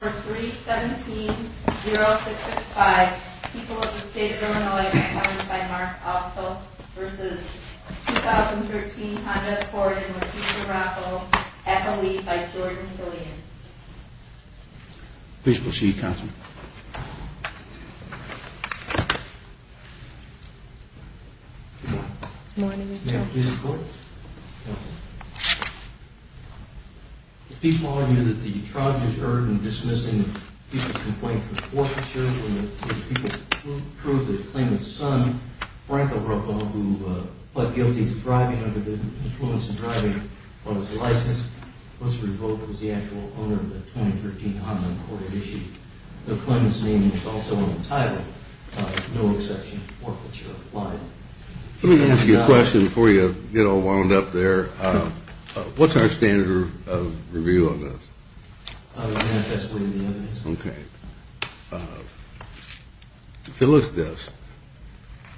For 3-17-0665, people of the state of Illinois are challenged by Mark Alsop v. 2013 Honda Accord and Latisha Rockwell, at the lead by Jordan Sillian. Please proceed, Councilman. Good morning, Mr. Chairman. May I please report? Councilman. The people argue that the trial deterred in dismissing the people's complaint for forfeiture when the people proved that it claimed that son, Frank O'Rouble, who pled guilty to driving under the influence of driving on his license, was the actual owner of the 2013 Honda Accord and Latisha. The claimant's name is also in the title. No exception to forfeiture applied. Let me ask you a question before you get all wound up there. What's our standard of review on this? I would ask that's within the evidence. Okay. If you look at this,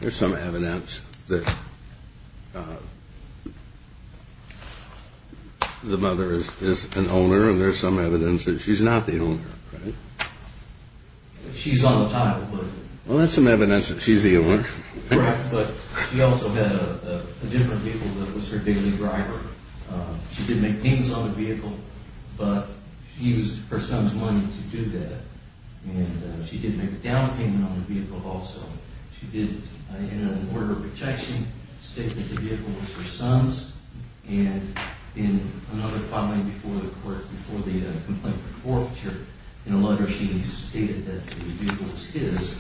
there's some evidence that the mother is an owner and there's some evidence that she's not the owner, right? She's on the title. Well, that's some evidence that she's the owner. Correct. But she also had a different vehicle that was her daily driver. She did make payments on the vehicle, but she used her son's money to do that. And she did make a down payment on the vehicle also. She did in an order of protection state that the vehicle was her son's. And in another filing before the court, before the complaint for forfeiture, in a letter she stated that the vehicle was his.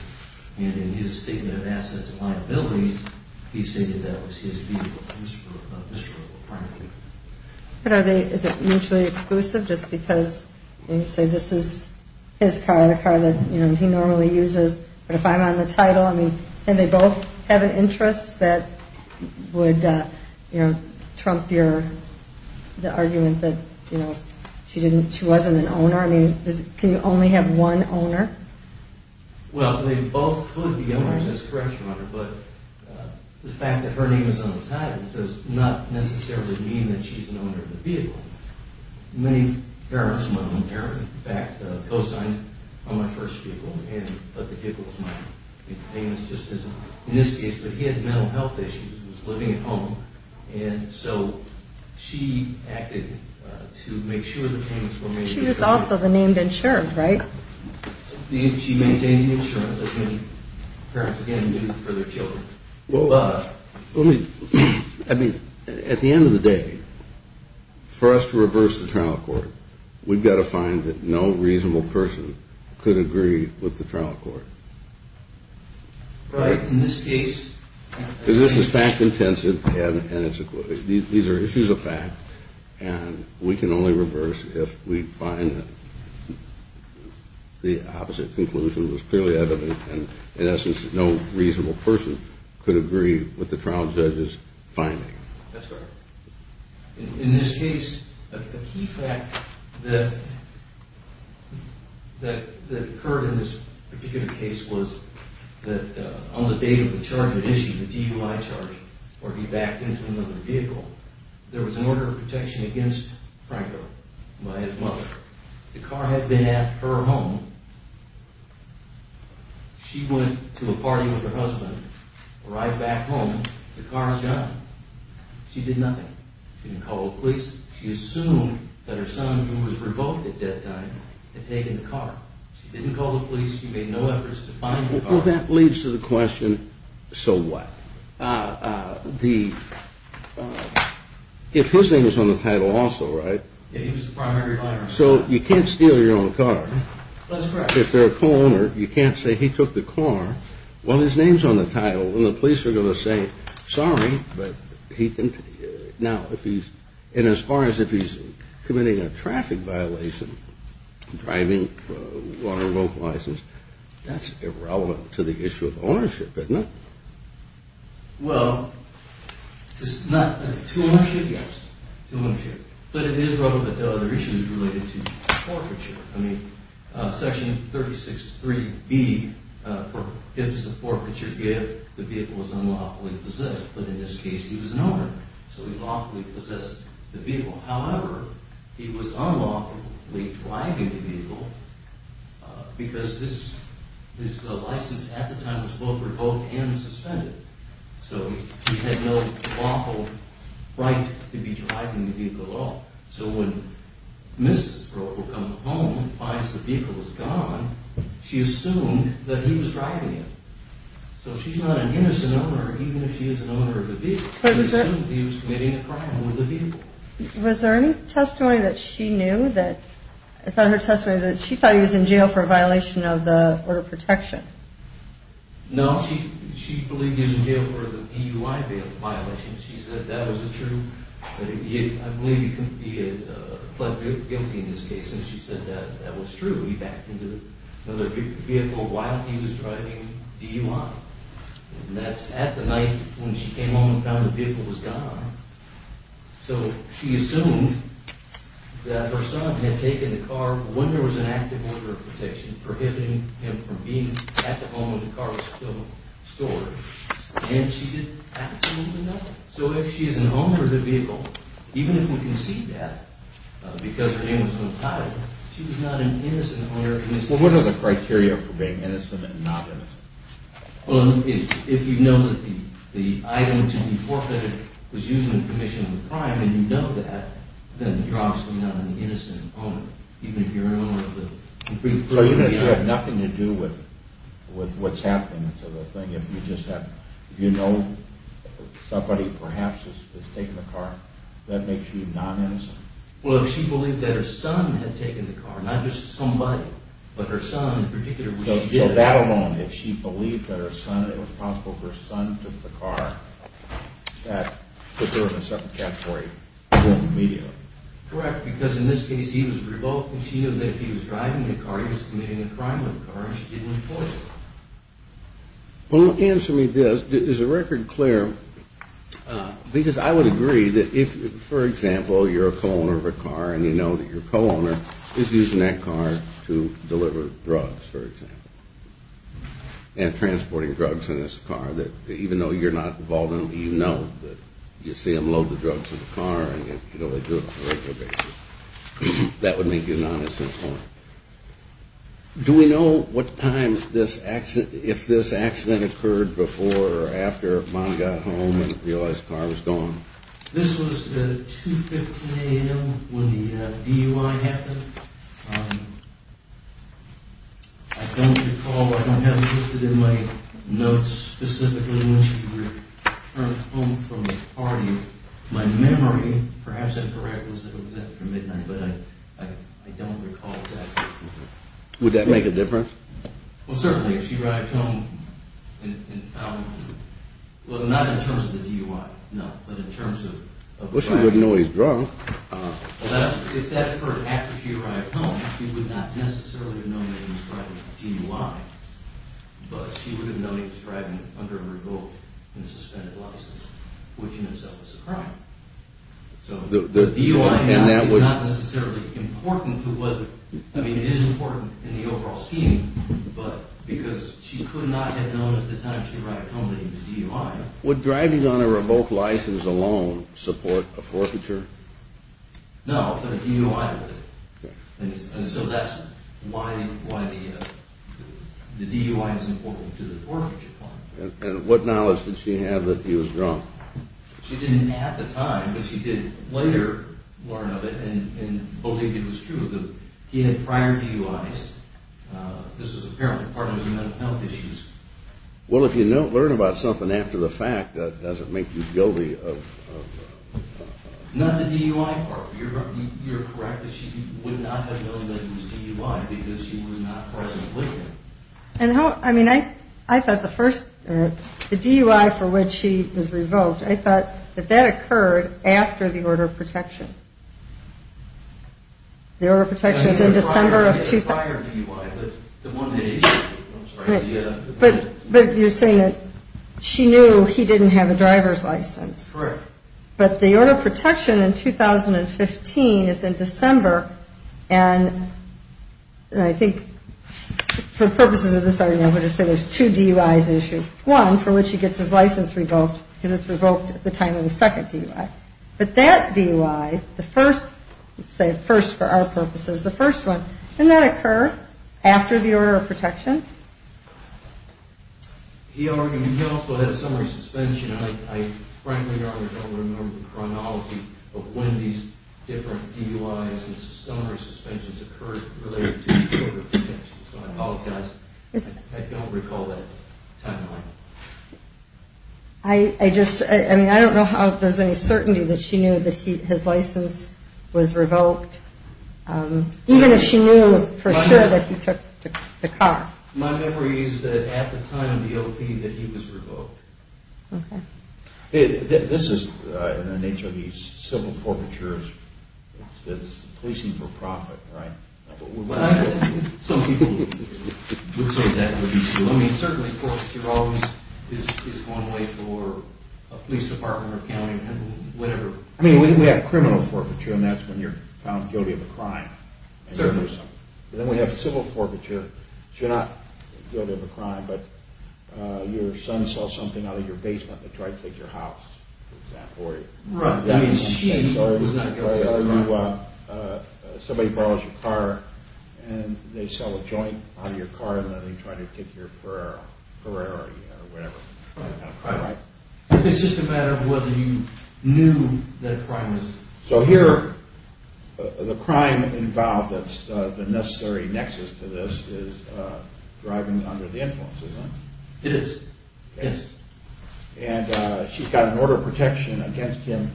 And in his statement of assets and liabilities, he stated that it was his vehicle. But are they mutually exclusive just because you say this is his car, the car that he normally uses? But if I'm on the title, I mean, can they both have an interest that would trump the argument that she wasn't an owner? I mean, can you only have one owner? Well, they both could be owners. That's correct, Your Honor. But the fact that her name is on the title does not necessarily mean that she's an owner of the vehicle. Many parents, in fact, co-signed on my first vehicle, but the vehicle was mine. In this case, but he had mental health issues. He was living at home. And so she acted to make sure the payments were made. She was also the named insurance, right? She maintained the insurance, as many parents, again, do for their children. Well, let me, I mean, at the end of the day, for us to reverse the trial court, we've got to find that no reasonable person could agree with the trial court. Right. In this case. This is fact-intensive, and these are issues of fact, and we can only reverse if we find that the opposite conclusion was clearly evident, and in essence, no reasonable person could agree with the trial judge's finding. That's correct. In this case, a key fact that occurred in this particular case was that on the date of the charge that issued, the DUI charge, where he backed into another vehicle, there was an order of protection against Franco by his mother. The car had been at her home. She went to a party with her husband, arrived back home. The car was gone. She did nothing. She didn't call the police. She assumed that her son, who was revoked at that time, had taken the car. She didn't call the police. She made no efforts to find the car. Well, that leads to the question, so what? If his name is on the title also, right? Yeah, he was the primary driver. So you can't steal your own car. That's correct. If they're a co-owner, you can't say he took the car. Well, his name's on the title, and the police are going to say, sorry, but he didn't. And as far as if he's committing a traffic violation, driving on a local license, that's irrelevant to the issue of ownership, isn't it? Well, it's not to ownership, yes, to ownership. But it is relevant to other issues related to forfeiture. I mean, Section 36.3B forbids the forfeiture if the vehicle is unlawfully possessed. But in this case, he was an owner, so he lawfully possessed the vehicle. However, he was unlawfully driving the vehicle because this license at the time was both revoked and suspended. So he had no lawful right to be driving the vehicle at all. So when Mrs. Broker comes home and finds the vehicle is gone, she assumed that he was driving it. So she's not an innocent owner, even if she is an owner of the vehicle. She assumed he was committing a crime with the vehicle. Was there any testimony that she knew that, I thought her testimony that she thought he was in jail for a violation of the order of protection? No, she believed he was in jail for the DUI violation. She said that was the truth. I believe he had pled guilty in this case, and she said that that was true. So he backed into another vehicle while he was driving DUI. And that's at the night when she came home and found the vehicle was gone. So she assumed that her son had taken the car when there was an active order of protection, prohibiting him from being at the home when the car was still stored. And she did absolutely nothing. So if she is an owner of the vehicle, even if we concede that because her name was on the title, she was not an innocent owner. Well, what are the criteria for being innocent and not innocent? Well, if you know that the item to be forfeited was used in the commission of a crime, and you know that, then the driver is not an innocent owner. Even if you're an owner of the vehicle. So even if she had nothing to do with what's happening to the thing, if you know somebody perhaps has taken the car, that makes you non-innocent? Well, if she believed that her son had taken the car, not just somebody, but her son in particular when she did it. So that alone, if she believed that her son, it was possible her son took the car, that there would have been some category within the medium? Correct, because in this case he was revoking. She knew that if he was driving the car, he was committing a crime with the car, and she didn't employ him. Well, answer me this. Is the record clear? Because I would agree that if, for example, you're a co-owner of a car and you know that your co-owner is using that car to deliver drugs, for example, and transporting drugs in this car, that even though you're not involved in it, you know that you see them load the drugs in the car and you know they do it on a regular basis. That would make you non-innocent. Do we know if this accident occurred before or after Mom got home and realized the car was gone? This was at 2.15 a.m. when the DUI happened. I don't recall. I don't have it listed in my notes specifically when she returned home from the party. My memory, perhaps I'm correct, was that it was after midnight, but I don't recall exactly. Would that make a difference? Well, certainly, if she arrived home and found, well, not in terms of the DUI, no, but in terms of the driver. Well, she wouldn't know he was drunk. If that's for after she arrived home, she would not necessarily have known that he was driving a DUI, but she would have known he was driving under a revoked and suspended license, which in itself is a crime. So the DUI now is not necessarily important to what, I mean, it is important in the overall scheme, but because she could not have known at the time she arrived home that he was DUI. Would driving on a revoked license alone support a forfeiture? No, but a DUI would. And so that's why the DUI is important to the forfeiture part. And what knowledge did she have that he was drunk? She didn't at the time, but she did later learn of it and believe it was true that he had prior DUIs. This is apparently part of his mental health issues. Well, if you don't learn about something after the fact, does it make you guilty of? Not the DUI part. You're correct that she would not have known that he was DUI because she was not present with him. And how, I mean, I thought the first, the DUI for which he was revoked, I thought that that occurred after the order of protection. The order of protection was in December of 2000. He had a prior DUI, but the one that he issued, I'm sorry. But you're saying that she knew he didn't have a driver's license. Correct. But the order of protection in 2015 is in December. And I think for purposes of this argument, I'm going to say there's two DUIs issued. One for which he gets his license revoked because it's revoked at the time of the second DUI. But that DUI, the first, let's say first for our purposes, the first one, He also had a summary suspension. I frankly don't remember the chronology of when these different DUIs and summary suspensions occurred related to the order of protection. So I apologize. I don't recall that timeline. I just, I mean, I don't know how there's any certainty that she knew that his license was revoked. Even if she knew for sure that he took the car. My memory is that at the time of the O.P. that he was revoked. Okay. This is in the nature of these civil forfeitures. It's policing for profit, right? Some people would say that would be true. I mean, certainly forfeiture always is going away for a police department or county or whatever. I mean, we have criminal forfeiture, and that's when you're found guilty of a crime. Certainly. Then we have civil forfeiture. So you're not guilty of a crime, but your son saw something out of your basement and tried to take your house, for example. Right. I mean, she was not guilty of a crime. Somebody borrows your car, and they sell a joint out of your car, and then they try to take your Ferrari or whatever. Right. It's just a matter of whether you knew that a crime was committed. So here, the crime involved that's the necessary nexus to this is driving under the influence, isn't it? It is. Okay. Yes. And she's got an order of protection against him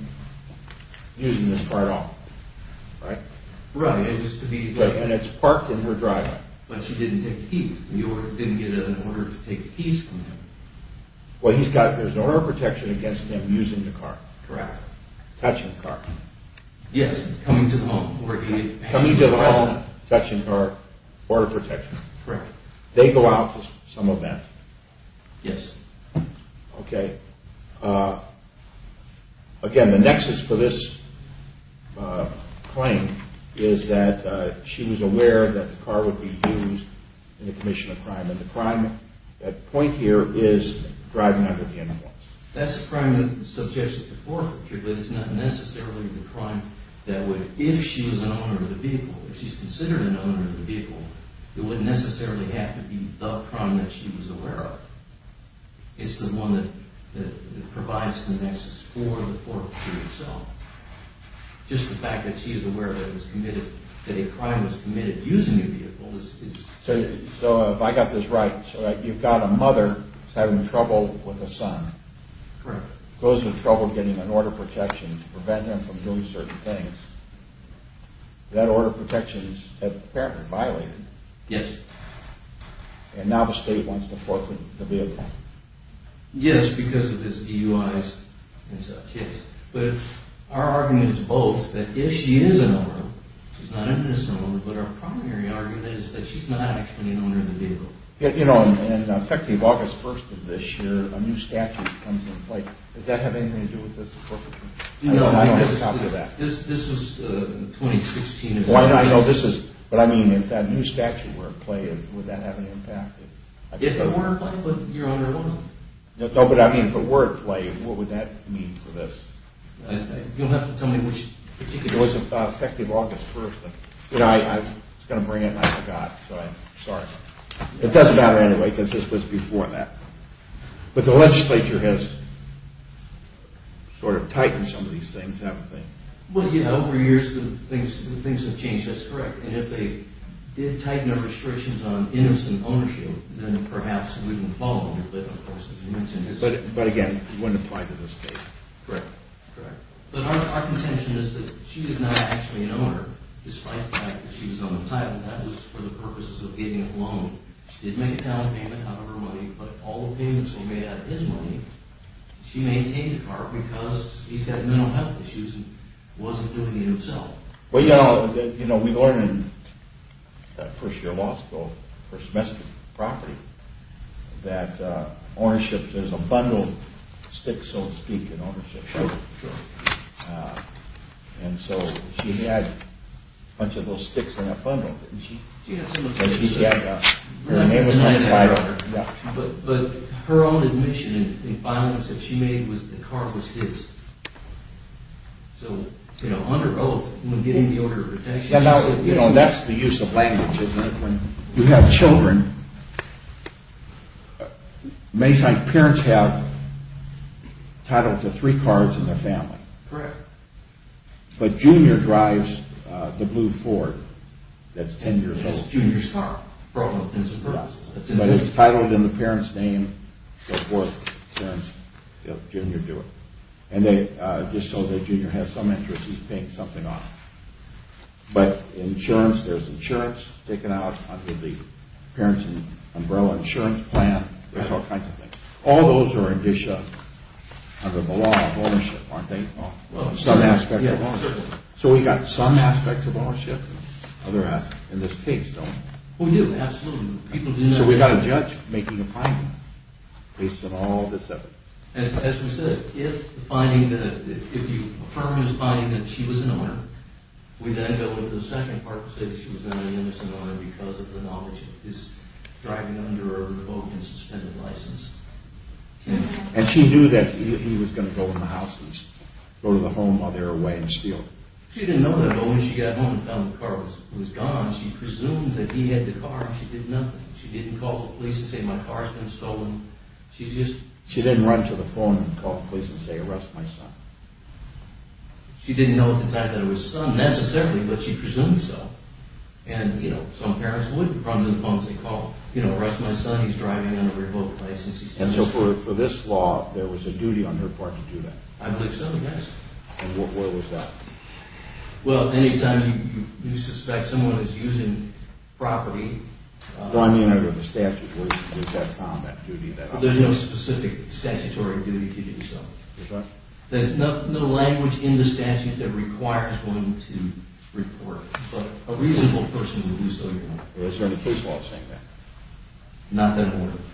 using this car at all, right? Right. And it's parked in her driveway. But she didn't take the keys. The order didn't get an order to take the keys from him. Well, there's an order of protection against him using the car. Correct. Touching the car. Yes, coming to the home. Coming to the home, touching the car, order of protection. Correct. They go out to some event. Yes. Okay. Again, the nexus for this claim is that she was aware that the car would be used in the commission of crime. And the crime point here is driving under the influence. That's a crime subject to forfeiture, but it's not necessarily the crime that would, if she was an owner of the vehicle, if she's considered an owner of the vehicle, it wouldn't necessarily have to be the crime that she was aware of. It's the one that provides the nexus for the forfeiture itself. Just the fact that she's aware that it was committed, that a crime was committed using the vehicle is... So if I got this right, you've got a mother who's having trouble with a son. Correct. Goes to trouble getting an order of protection to prevent them from doing certain things. That order of protection is apparently violated. Yes. And now the state wants to forfeit the vehicle. Yes, because of this DUI and such, yes. But our argument is both that if she is an owner, she's not an innocent owner, but our primary argument is that she's not actually an owner of the vehicle. You know, and effective August 1st of this year, a new statute comes into play. Does that have anything to do with this forfeiture? No. I don't have a copy of that. This was in 2016. I know this is, but I mean, if that new statute were in play, would that have an impact? If it were in play, but your owner wasn't. No, but I mean, if it were in play, what would that mean for this? You'll have to tell me which particular... It was effective August 1st. I was going to bring it and I forgot, so I'm sorry. It doesn't matter anyway because this was before that. But the legislature has sort of tightened some of these things, haven't they? Well, yeah, over the years the things have changed. That's correct. And if they did tighten the restrictions on innocent ownership, then perhaps we wouldn't follow them. But again, it wouldn't apply to this case. Correct. But our contention is that she is not actually an owner, despite the fact that she was on the title. That was for the purposes of getting a loan. She did make a talent payment out of her money, but all the payments were made out of his money. She maintained the car because he's got mental health issues and wasn't doing it himself. We learned in first-year law school, first-semester property, that there's a bundle of sticks, so to speak, in ownership. Sure, sure. And so she had a bunch of those sticks in a bundle, didn't she? She had some of those sticks, sir. Her name was on the title. But her own admission and the final decision she made was that the car was his. So, you know, under oath, when getting the order of retention... That's the use of language, isn't it? When you have children, many times parents have title to three cars in their family. Correct. But Junior drives the blue Ford that's 10 years old. That's Junior's car. But it's titled in the parent's name, so of course parents help Junior do it. And just so that Junior has some interest, he's paying something off. But insurance, there's insurance taken out under the parents' umbrella insurance plan. There's all kinds of things. All those are indicia under the law of ownership, aren't they? Some aspects of ownership. So we got some aspects of ownership. Other aspects, in this case, don't. We do, absolutely. So we got a judge making a finding based on all this evidence. And she knew that he was going to go in the house and go to the home while they were away and steal. She didn't call the police and say, my car's been stolen. She didn't run to the phone and call the police and say, arrest my son. And so for this law, there was a duty on her part to do that? I believe so, yes. And what was that? Well, any time you suspect someone is using property. There's no specific statutory duty to do so. There's no language in the statute that requires one to report. But a reasonable person would do so. Is there any case law saying that? Not that I'm aware of.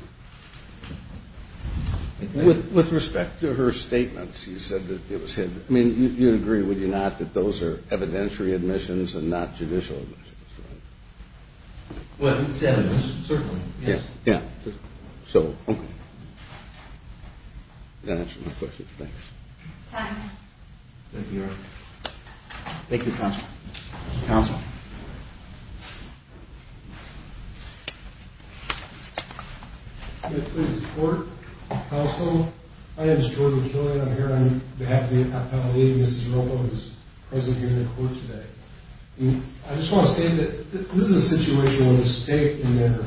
With respect to her statements, you said that it was his. I mean, you'd agree, would you not, that those are evidentiary admissions and not judicial admissions, right? Well, it's evidence, certainly, yes. Yeah. So, okay. That answers my question. Thanks. Time. Thank you, Eric. Thank you, Counsel. Counsel. May it please the Court, Counsel. My name is Jordan McKillian. I'm here on behalf of the Apt. 8. Mrs. Rolfo is present here in the Court today. I just want to state that this is a situation where the state and their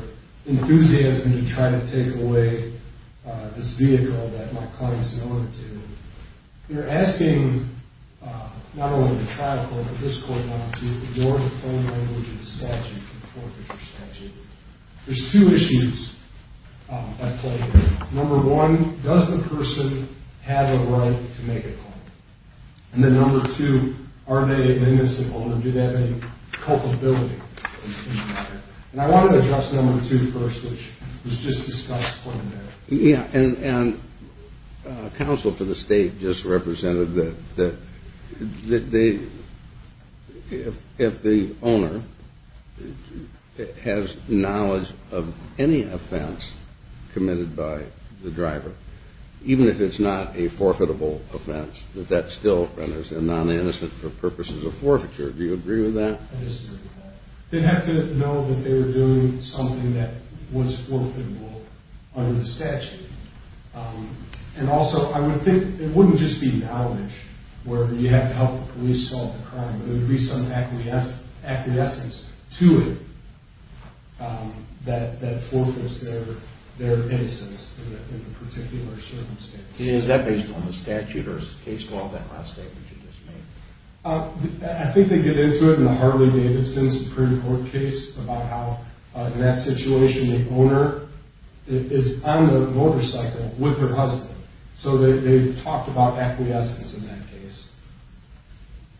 enthusiasm to try to take away this vehicle that my client's in order to... They're asking, not only the trial court, but this court now, to ignore the phone language in the statute, the foreclosure statute. There's two issues at play here. Number one, does the person have a right to make a claim? And then number two, are they an innocent owner? Do they have any culpability? And I want to address number two first, which was just discussed. Yeah. And Counsel, for the state, just represented that if the owner has knowledge of any offense committed by the driver, even if it's not a forfeitable offense, that that still renders them non-innocent for purposes of forfeiture. Do you agree with that? I disagree with that. They'd have to know that they were doing something that was forfeitable under the statute. And also, I would think it wouldn't just be knowledge where you have to help the police solve the crime. There would be some acquiescence to it that forfeits their innocence in a particular circumstance. And is that based on the statute or is it based off that last statement you just made? I think they get into it in the Harley-Davidson Supreme Court case about how, in that situation, the owner is on the motorcycle with her husband. So they talked about acquiescence in that case.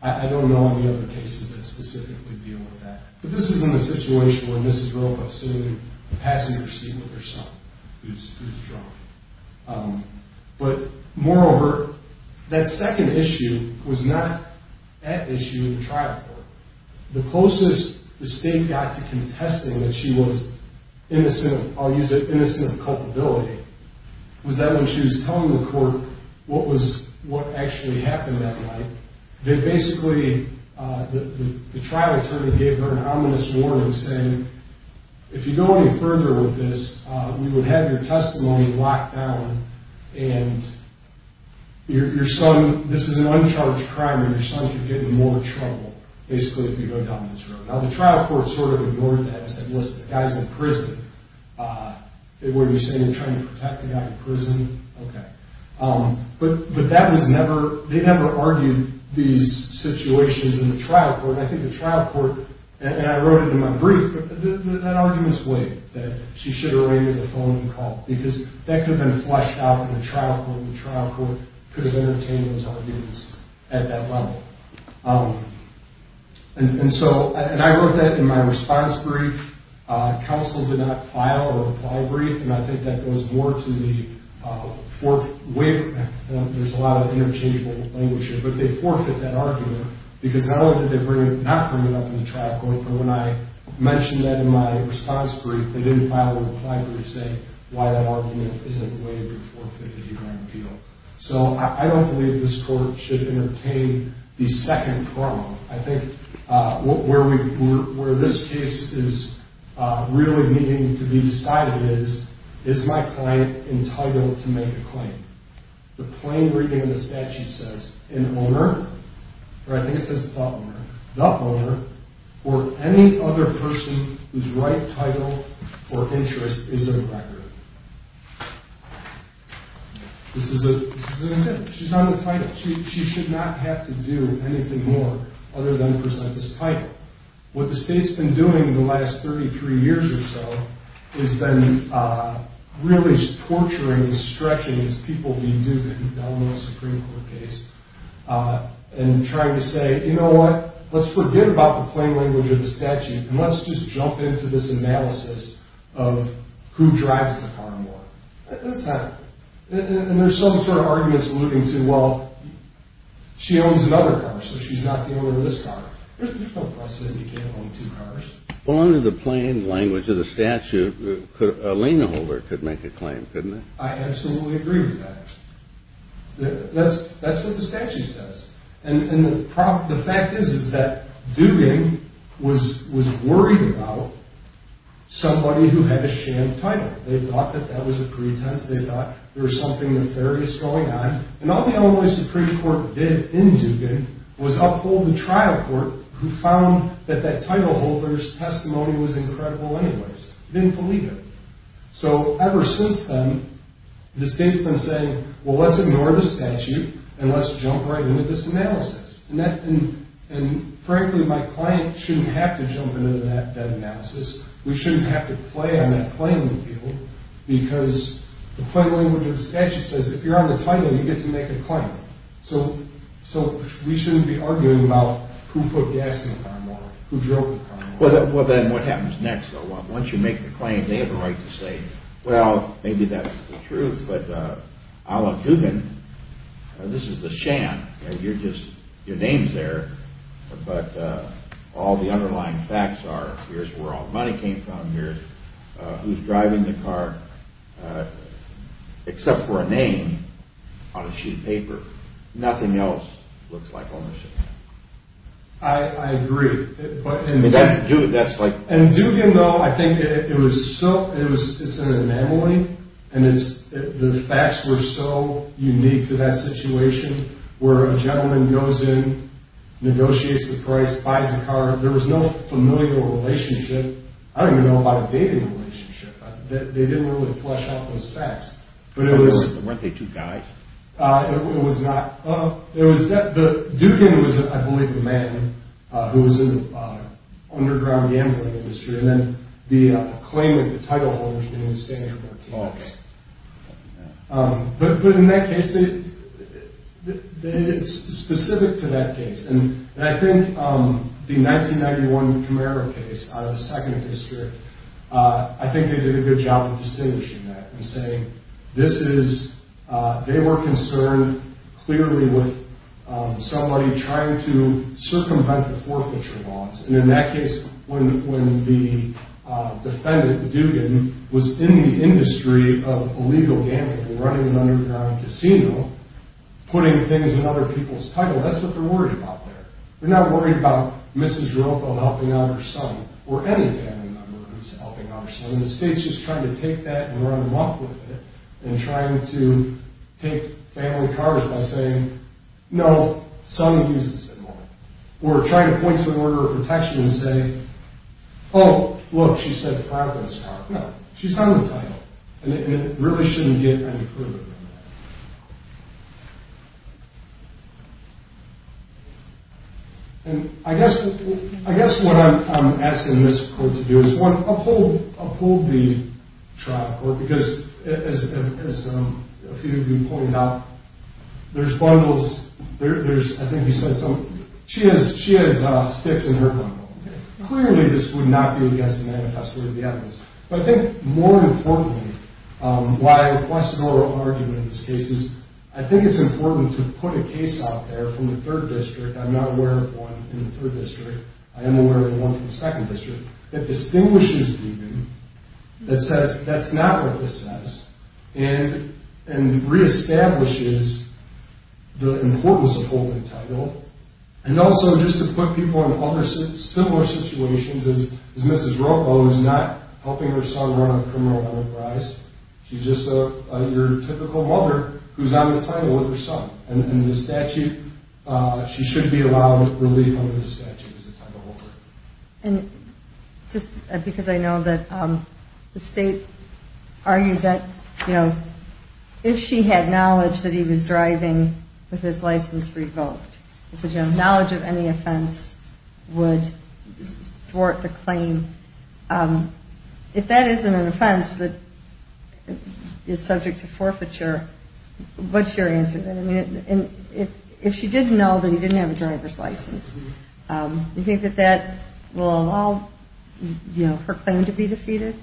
I don't know any other cases that specifically deal with that. But this is in the situation where Mrs. Robo is sitting in the passenger seat with her son, who's drunk. But moreover, that second issue was not that issue in the trial court. The closest the state got to contesting that she was innocent of, I'll use it, innocent of culpability, was that when she was telling the court what actually happened that night, that basically the trial attorney gave her an ominous warning saying, if you go any further with this, we would have your testimony locked down. And this is an uncharged crime and your son could get in more trouble, basically, if you go down this road. Now, the trial court sort of ignored that and said, listen, the guy's in prison. What are you saying? You're trying to protect the guy in prison? Okay. But they never argued these situations in the trial court. And I think the trial court, and I wrote it in my brief, that argument's weak, that she should have waited for the phone call, because that could have been flushed out in the trial court and the trial court could have entertained those arguments at that level. And so, and I wrote that in my response brief. Counsel did not file a reply brief, and I think that goes more to the, there's a lot of interchangeable language here, but they forfeit that argument because not only did they not bring it up in the trial court, but when I mentioned that in my response brief, they didn't file a reply brief saying why that argument isn't a way to forfeit a U.N. appeal. So I don't believe this court should entertain the second problem. I think where this case is really needing to be decided is, is my client entitled to make a claim? The plain reading of the statute says, an owner, or I think it says the owner, the owner or any other person whose right, title, or interest is a record. This is an intent. She's not entitled. She should not have to do anything more other than present this title. What the state's been doing in the last 33 years or so, has been really torturing and stretching these people we do in the Eleanor Supreme Court case, and trying to say, you know what, let's forget about the plain language of the statute, and let's just jump into this analysis of who drives the car more. That's not, and there's some sort of arguments alluding to, well, she owns another car, so she's not the owner of this car. There's no precedent you can't own two cars. Well, under the plain language of the statute, a lien holder could make a claim, couldn't they? I absolutely agree with that. That's what the statute says. And the fact is, is that Duggan was worried about somebody who had a sham title. They thought that that was a pretense. They thought there was something nefarious going on. And all the Eleanor Supreme Court did in Duggan was uphold the trial court, who found that that title holder's testimony was incredible anyways. They didn't believe it. So ever since then, the state's been saying, well, let's ignore the statute, and let's jump right into this analysis. And frankly, my client shouldn't have to jump into that analysis. We shouldn't have to play on that plain field, because the plain language of the statute says if you're on the title, you get to make a claim. So we shouldn't be arguing about who put gas in the car model, who drove the car model. Well, then what happens next? Once you make the claim, they have a right to say, well, maybe that's the truth, but Alan Duggan, this is a sham. Your name's there, but all the underlying facts are, here's where all the money came from, who's driving the car, except for a name on a sheet of paper. Nothing else looks like ownership. I agree. In Duggan, though, I think it's an anomaly, and the facts were so unique to that situation, where a gentleman goes in, negotiates the price, buys the car. There was no familial relationship. I don't even know about a dating relationship. They didn't really flesh out those facts. Weren't they two guys? It was not. Duggan was, I believe, the man who was in the underground gambling industry, and then the claimant, the title holder's name was Sandra Martinez. Okay. But in that case, it's specific to that case. And I think the 1991 Camaro case out of the 2nd District, I think they did a good job of distinguishing that and saying this is, they were concerned clearly with somebody trying to circumvent the forfeiture laws. And in that case, when the defendant, Duggan, was in the industry of illegal gambling, running an underground casino, putting things in other people's title, that's what they're worried about there. They're not worried about Mrs. Ropo helping out her son, or any family member who's helping out her son. The state's just trying to take that and run them up with it, and trying to take family cars by saying, no, son uses it more. Or trying to point to an order of protection and say, oh, look, she said the car was hers. No, she's having the title. And it really shouldn't get any further than that. And I guess what I'm asking this court to do is, one, uphold the trial court, because as a few of you pointed out, there's bundles. I think you said something. She has sticks in her bundle. Clearly, this would not be against the manifesto of the evidence. But I think more importantly, why I request an oral argument in this case is, I think it's important to put a case out there from the 3rd District, I'm not aware of one in the 3rd District, I am aware of one from the 2nd District, that distinguishes Duggan, that says that's not what this says, and reestablishes the importance of holding the title. And also, just to put people in similar situations as Mrs. Ropo, who's not helping her son run a criminal enterprise, she's just your typical mother who's on the title with her son. And the statute, she should be allowed relief under the statute as the title holder. And just because I know that the State argued that, you know, if she had knowledge that he was driving with his license revoked, knowledge of any offense would thwart the claim. If that isn't an offense that is subject to forfeiture, what's your answer? If she did know that he didn't have a driver's license, do you think that that will allow her claim to be defeated?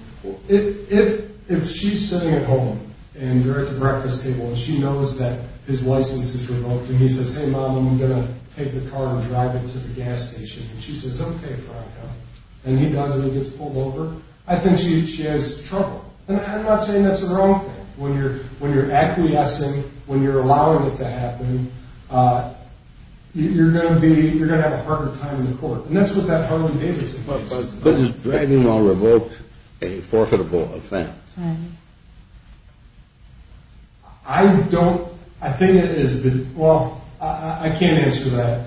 If she's sitting at home, and you're at the breakfast table, and she knows that his license is revoked, and he says, hey, Mom, I'm going to take the car and drive it to the gas station, and she says, okay, Franco, and he does it and he gets pulled over, I think she has trouble. And I'm not saying that's the wrong thing. When you're acquiescing, when you're allowing it to happen, you're going to have a harder time in court. And that's what that Harley-Davidson case is about. But is driving while revoked a forfeitable offense? I don't – I think it is – well, I can't answer that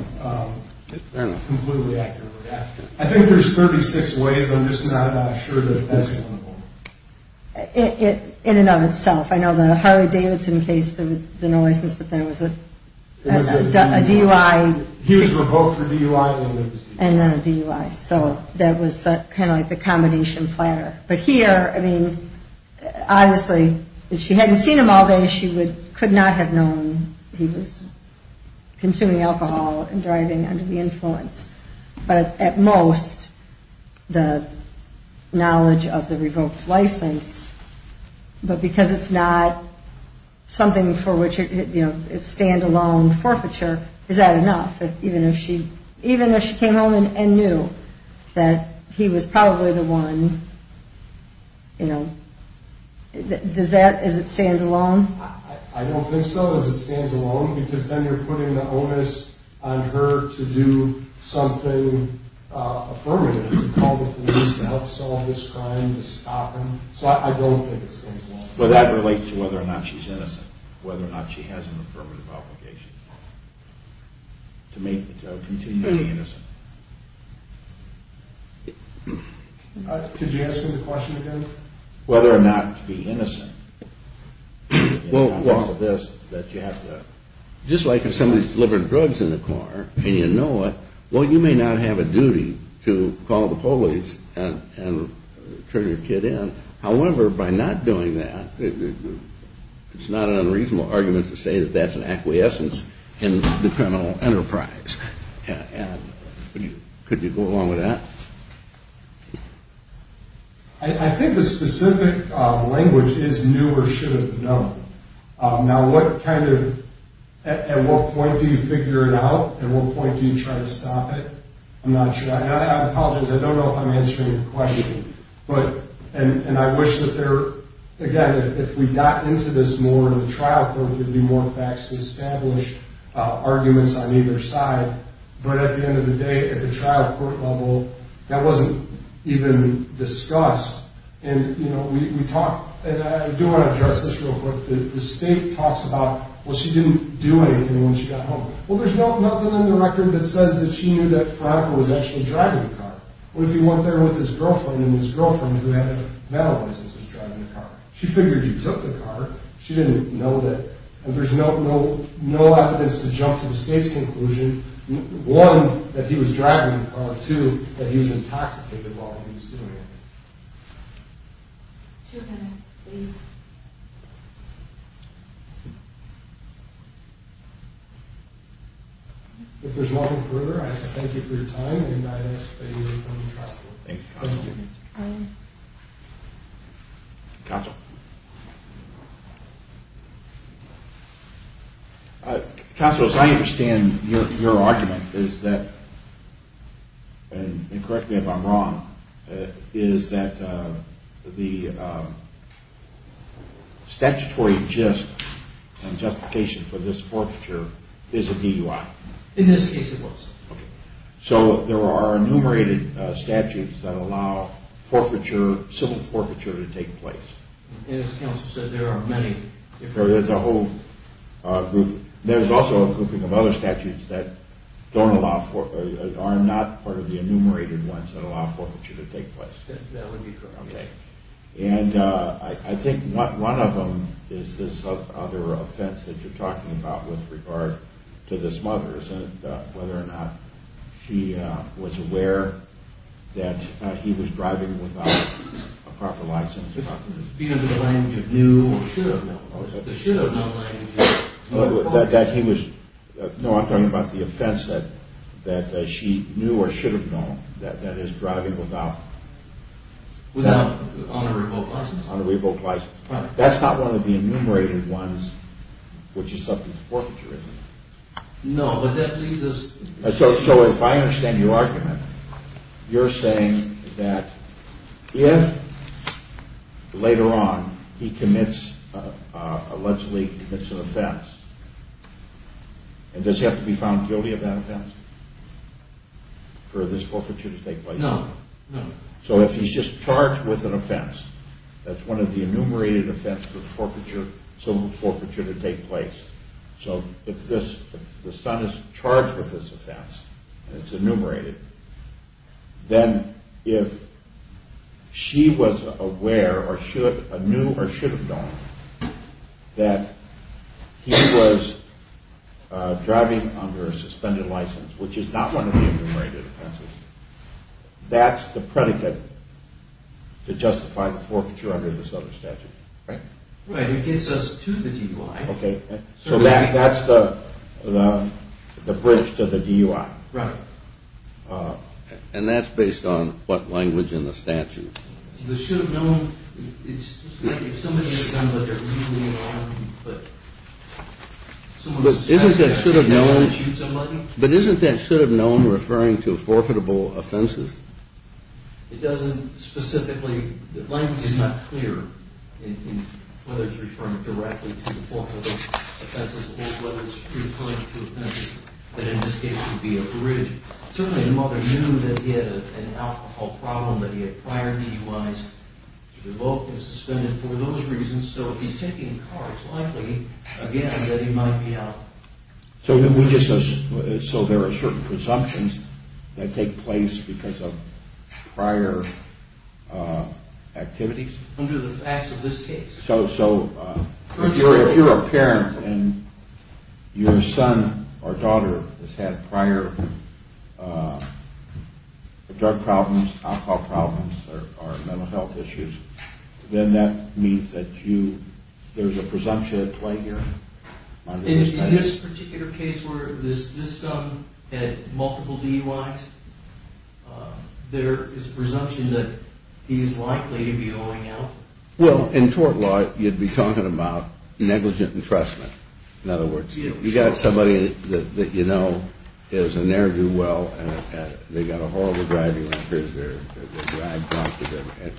completely accurately. I think there's 36 ways. I'm just not sure that that's one of them. In and of itself. I know the Harley-Davidson case, there was no license, but there was a DUI. He was revoked for DUI, and then there was DUI. And then a DUI. So that was kind of like the combination platter. But here, I mean, obviously, if she hadn't seen him all day, she could not have known he was consuming alcohol and driving under the influence. But at most, the knowledge of the revoked license, but because it's not something for which it's standalone forfeiture, is that enough? Even if she came home and knew that he was probably the one, you know, does that – does it stand alone? I don't think so. Does it stand alone? Because then you're putting the onus on her to do something affirmative, to call the police to help solve this crime, to stop him. So I don't think it stands alone. But that relates to whether or not she's innocent, whether or not she has an affirmative obligation to continue to be innocent. Could you ask him the question again? Whether or not to be innocent. Well, just like if somebody's delivering drugs in the car and you know it, well, you may not have a duty to call the police and turn your kid in. However, by not doing that, it's not an unreasonable argument to say that that's an acquiescence in the criminal enterprise. Could you go along with that? I think the specific language is new or should have been known. Now, what kind of – at what point do you figure it out? At what point do you try to stop it? I'm not sure. I apologize. I don't know if I'm answering your question. But – and I wish that there – again, if we got into this more in the trial court, there would be more facts to establish arguments on either side. But at the end of the day, at the trial court level, that wasn't even discussed. And, you know, we talked – and I do want to address this real quick. The state talks about, well, she didn't do anything when she got home. Well, there's nothing in the record that says that she knew that Fraga was actually driving the car. What if he went there with his girlfriend and his girlfriend, who had a metal license, was driving the car? She figured he took the car. She didn't know that. And there's no evidence to jump to the state's conclusion, one, that he was driving the car, two, that he was intoxicated while he was doing it. Two minutes, please. If there's nothing further, I'd like to thank you for your time. And I ask that you remain trustworthy. Thank you, counsel. Counsel. Counsel, as I understand your argument, is that – and correct me if I'm wrong – is that the statutory gist and justification for this forfeiture is a DUI. In this case, it was. Okay. So there are enumerated statutes that allow civil forfeiture to take place. As counsel said, there are many. There's a whole group. There's also a grouping of other statutes that don't allow for – are not part of the enumerated ones that allow for forfeiture to take place. That would be correct. Okay. And I think one of them is this other offense that you're talking about with regard to the smugglers and whether or not she was aware that he was driving without a proper license. Being in the lane you knew or should have known. The should have known lane. That he was – no, I'm talking about the offense that she knew or should have known, that is, driving without – Without – on a revoked license. On a revoked license. Right. That's not one of the enumerated ones which is subject to forfeiture, is it? No, but that leaves us – So if I understand your argument, you're saying that if later on he commits – a Leslie commits an offense, does he have to be found guilty of that offense for this forfeiture to take place? No, no. So if he's just charged with an offense, that's one of the enumerated offenses for silver forfeiture to take place. So if the son is charged with this offense and it's enumerated, then if she was aware or knew or should have known that he was driving under a suspended license, which is not one of the enumerated offenses, that's the predicate to justify the forfeiture under this other statute, right? Right. It gets us to the DUI. Okay. So that's the bridge to the DUI. Right. And that's based on what language in the statute? The should have known – it's like if somebody has a gun, but they're leaving it on, but someone says – But isn't that should have known – But isn't that should have known referring to forfeitable offenses? It doesn't specifically – Whether it's referring directly to the forfeitable offenses, or whether it's referring to an offense that in this case would be a bridge. Certainly the mother knew that he had an alcohol problem that he had prior DUIs to revoke and suspended for those reasons. So if he's taking a car, it's likely, again, that he might be out. So there are certain presumptions that take place because of prior activities? Under the facts of this case. So if you're a parent and your son or daughter has had prior drug problems, alcohol problems, or mental health issues, then that means that there's a presumption at play here? In this particular case where this son had multiple DUIs, there is a presumption that he's likely to be going out? Well, in tort law, you'd be talking about negligent entrustment. In other words, you've got somebody that you know is a ne'er-do-well, and they've got a horrible driving record,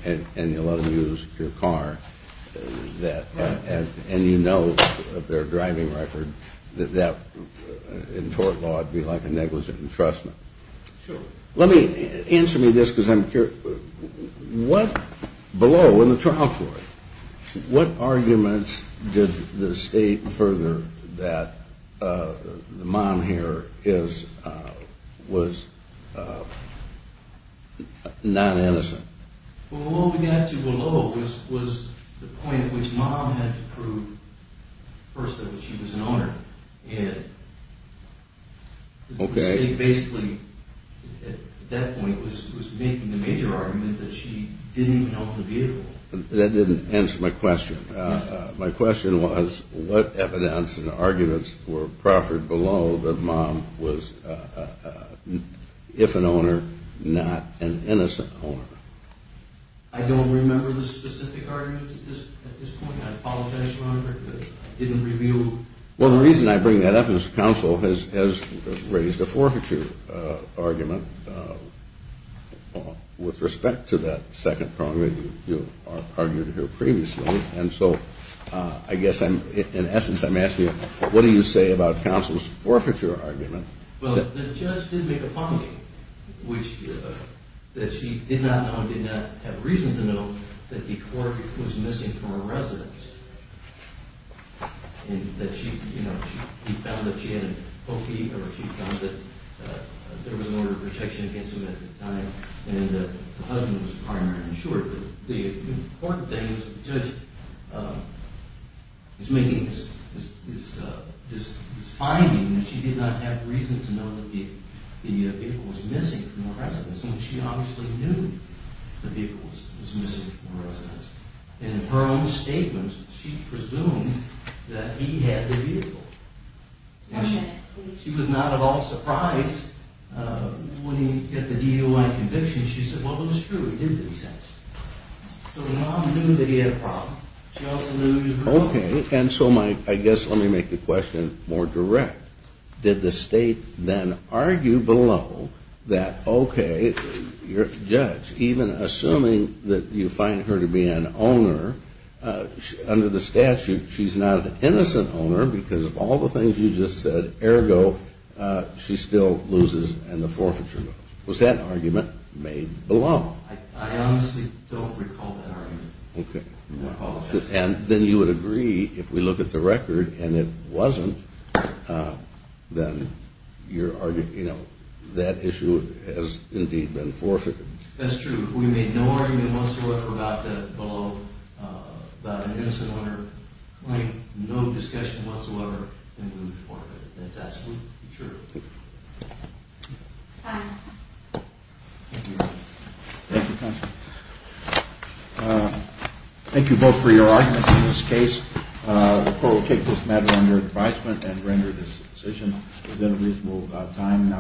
and you let them use your car, and you know of their driving record, that in tort law it would be like a negligent entrustment. Sure. Answer me this because I'm curious. Below in the trial court, what arguments did the state further that the mom here was non-innocent? Well, what we got to below was the point at which mom had to prove first that she was an owner. And the state basically at that point was making the major argument that she didn't own the vehicle. That didn't answer my question. My question was what evidence and arguments were proffered below that mom was, if an owner, not an innocent owner? I don't remember the specific arguments at this point. I apologize, Your Honor, because I didn't review. Well, the reason I bring that up is counsel has raised a forfeiture argument with respect to that second prong that you argued here previously. And so I guess in essence I'm asking you what do you say about counsel's forfeiture argument Well, the judge did make a finding that she did not know, did not have reason to know, that the cork was missing from her residence. And that she, you know, she found that she had a cofee, or she found that there was an order of protection against him at the time, and the husband was a partner in short. The important thing is that the judge is making this finding that she did not have reason to know that the vehicle was missing from her residence. And she obviously knew the vehicle was missing from her residence. In her own statements, she presumed that he had the vehicle. And she was not at all surprised when he, at the DUI conviction, she said, Well, it was true, it did make sense. So the mom knew that he had a problem. She also knew he was broke. Okay, and so I guess let me make the question more direct. Did the state then argue below that, okay, your judge, even assuming that you find her to be an owner, under the statute she's not an innocent owner because of all the things you just said, ergo, she still loses and the forfeiture goes. Was that argument made below? I honestly don't recall that argument. Okay. I apologize. And then you would agree if we look at the record and it wasn't, then your argument, you know, that issue has indeed been forfeited. That's true. If we made no argument whatsoever about the below, about an innocent owner, claim no discussion whatsoever, then we would forfeit. That's absolutely true. Thank you. Thank you, counsel. Thank you both for your arguments in this case. The court will take this matter under advisement and render this decision within a reasonable time.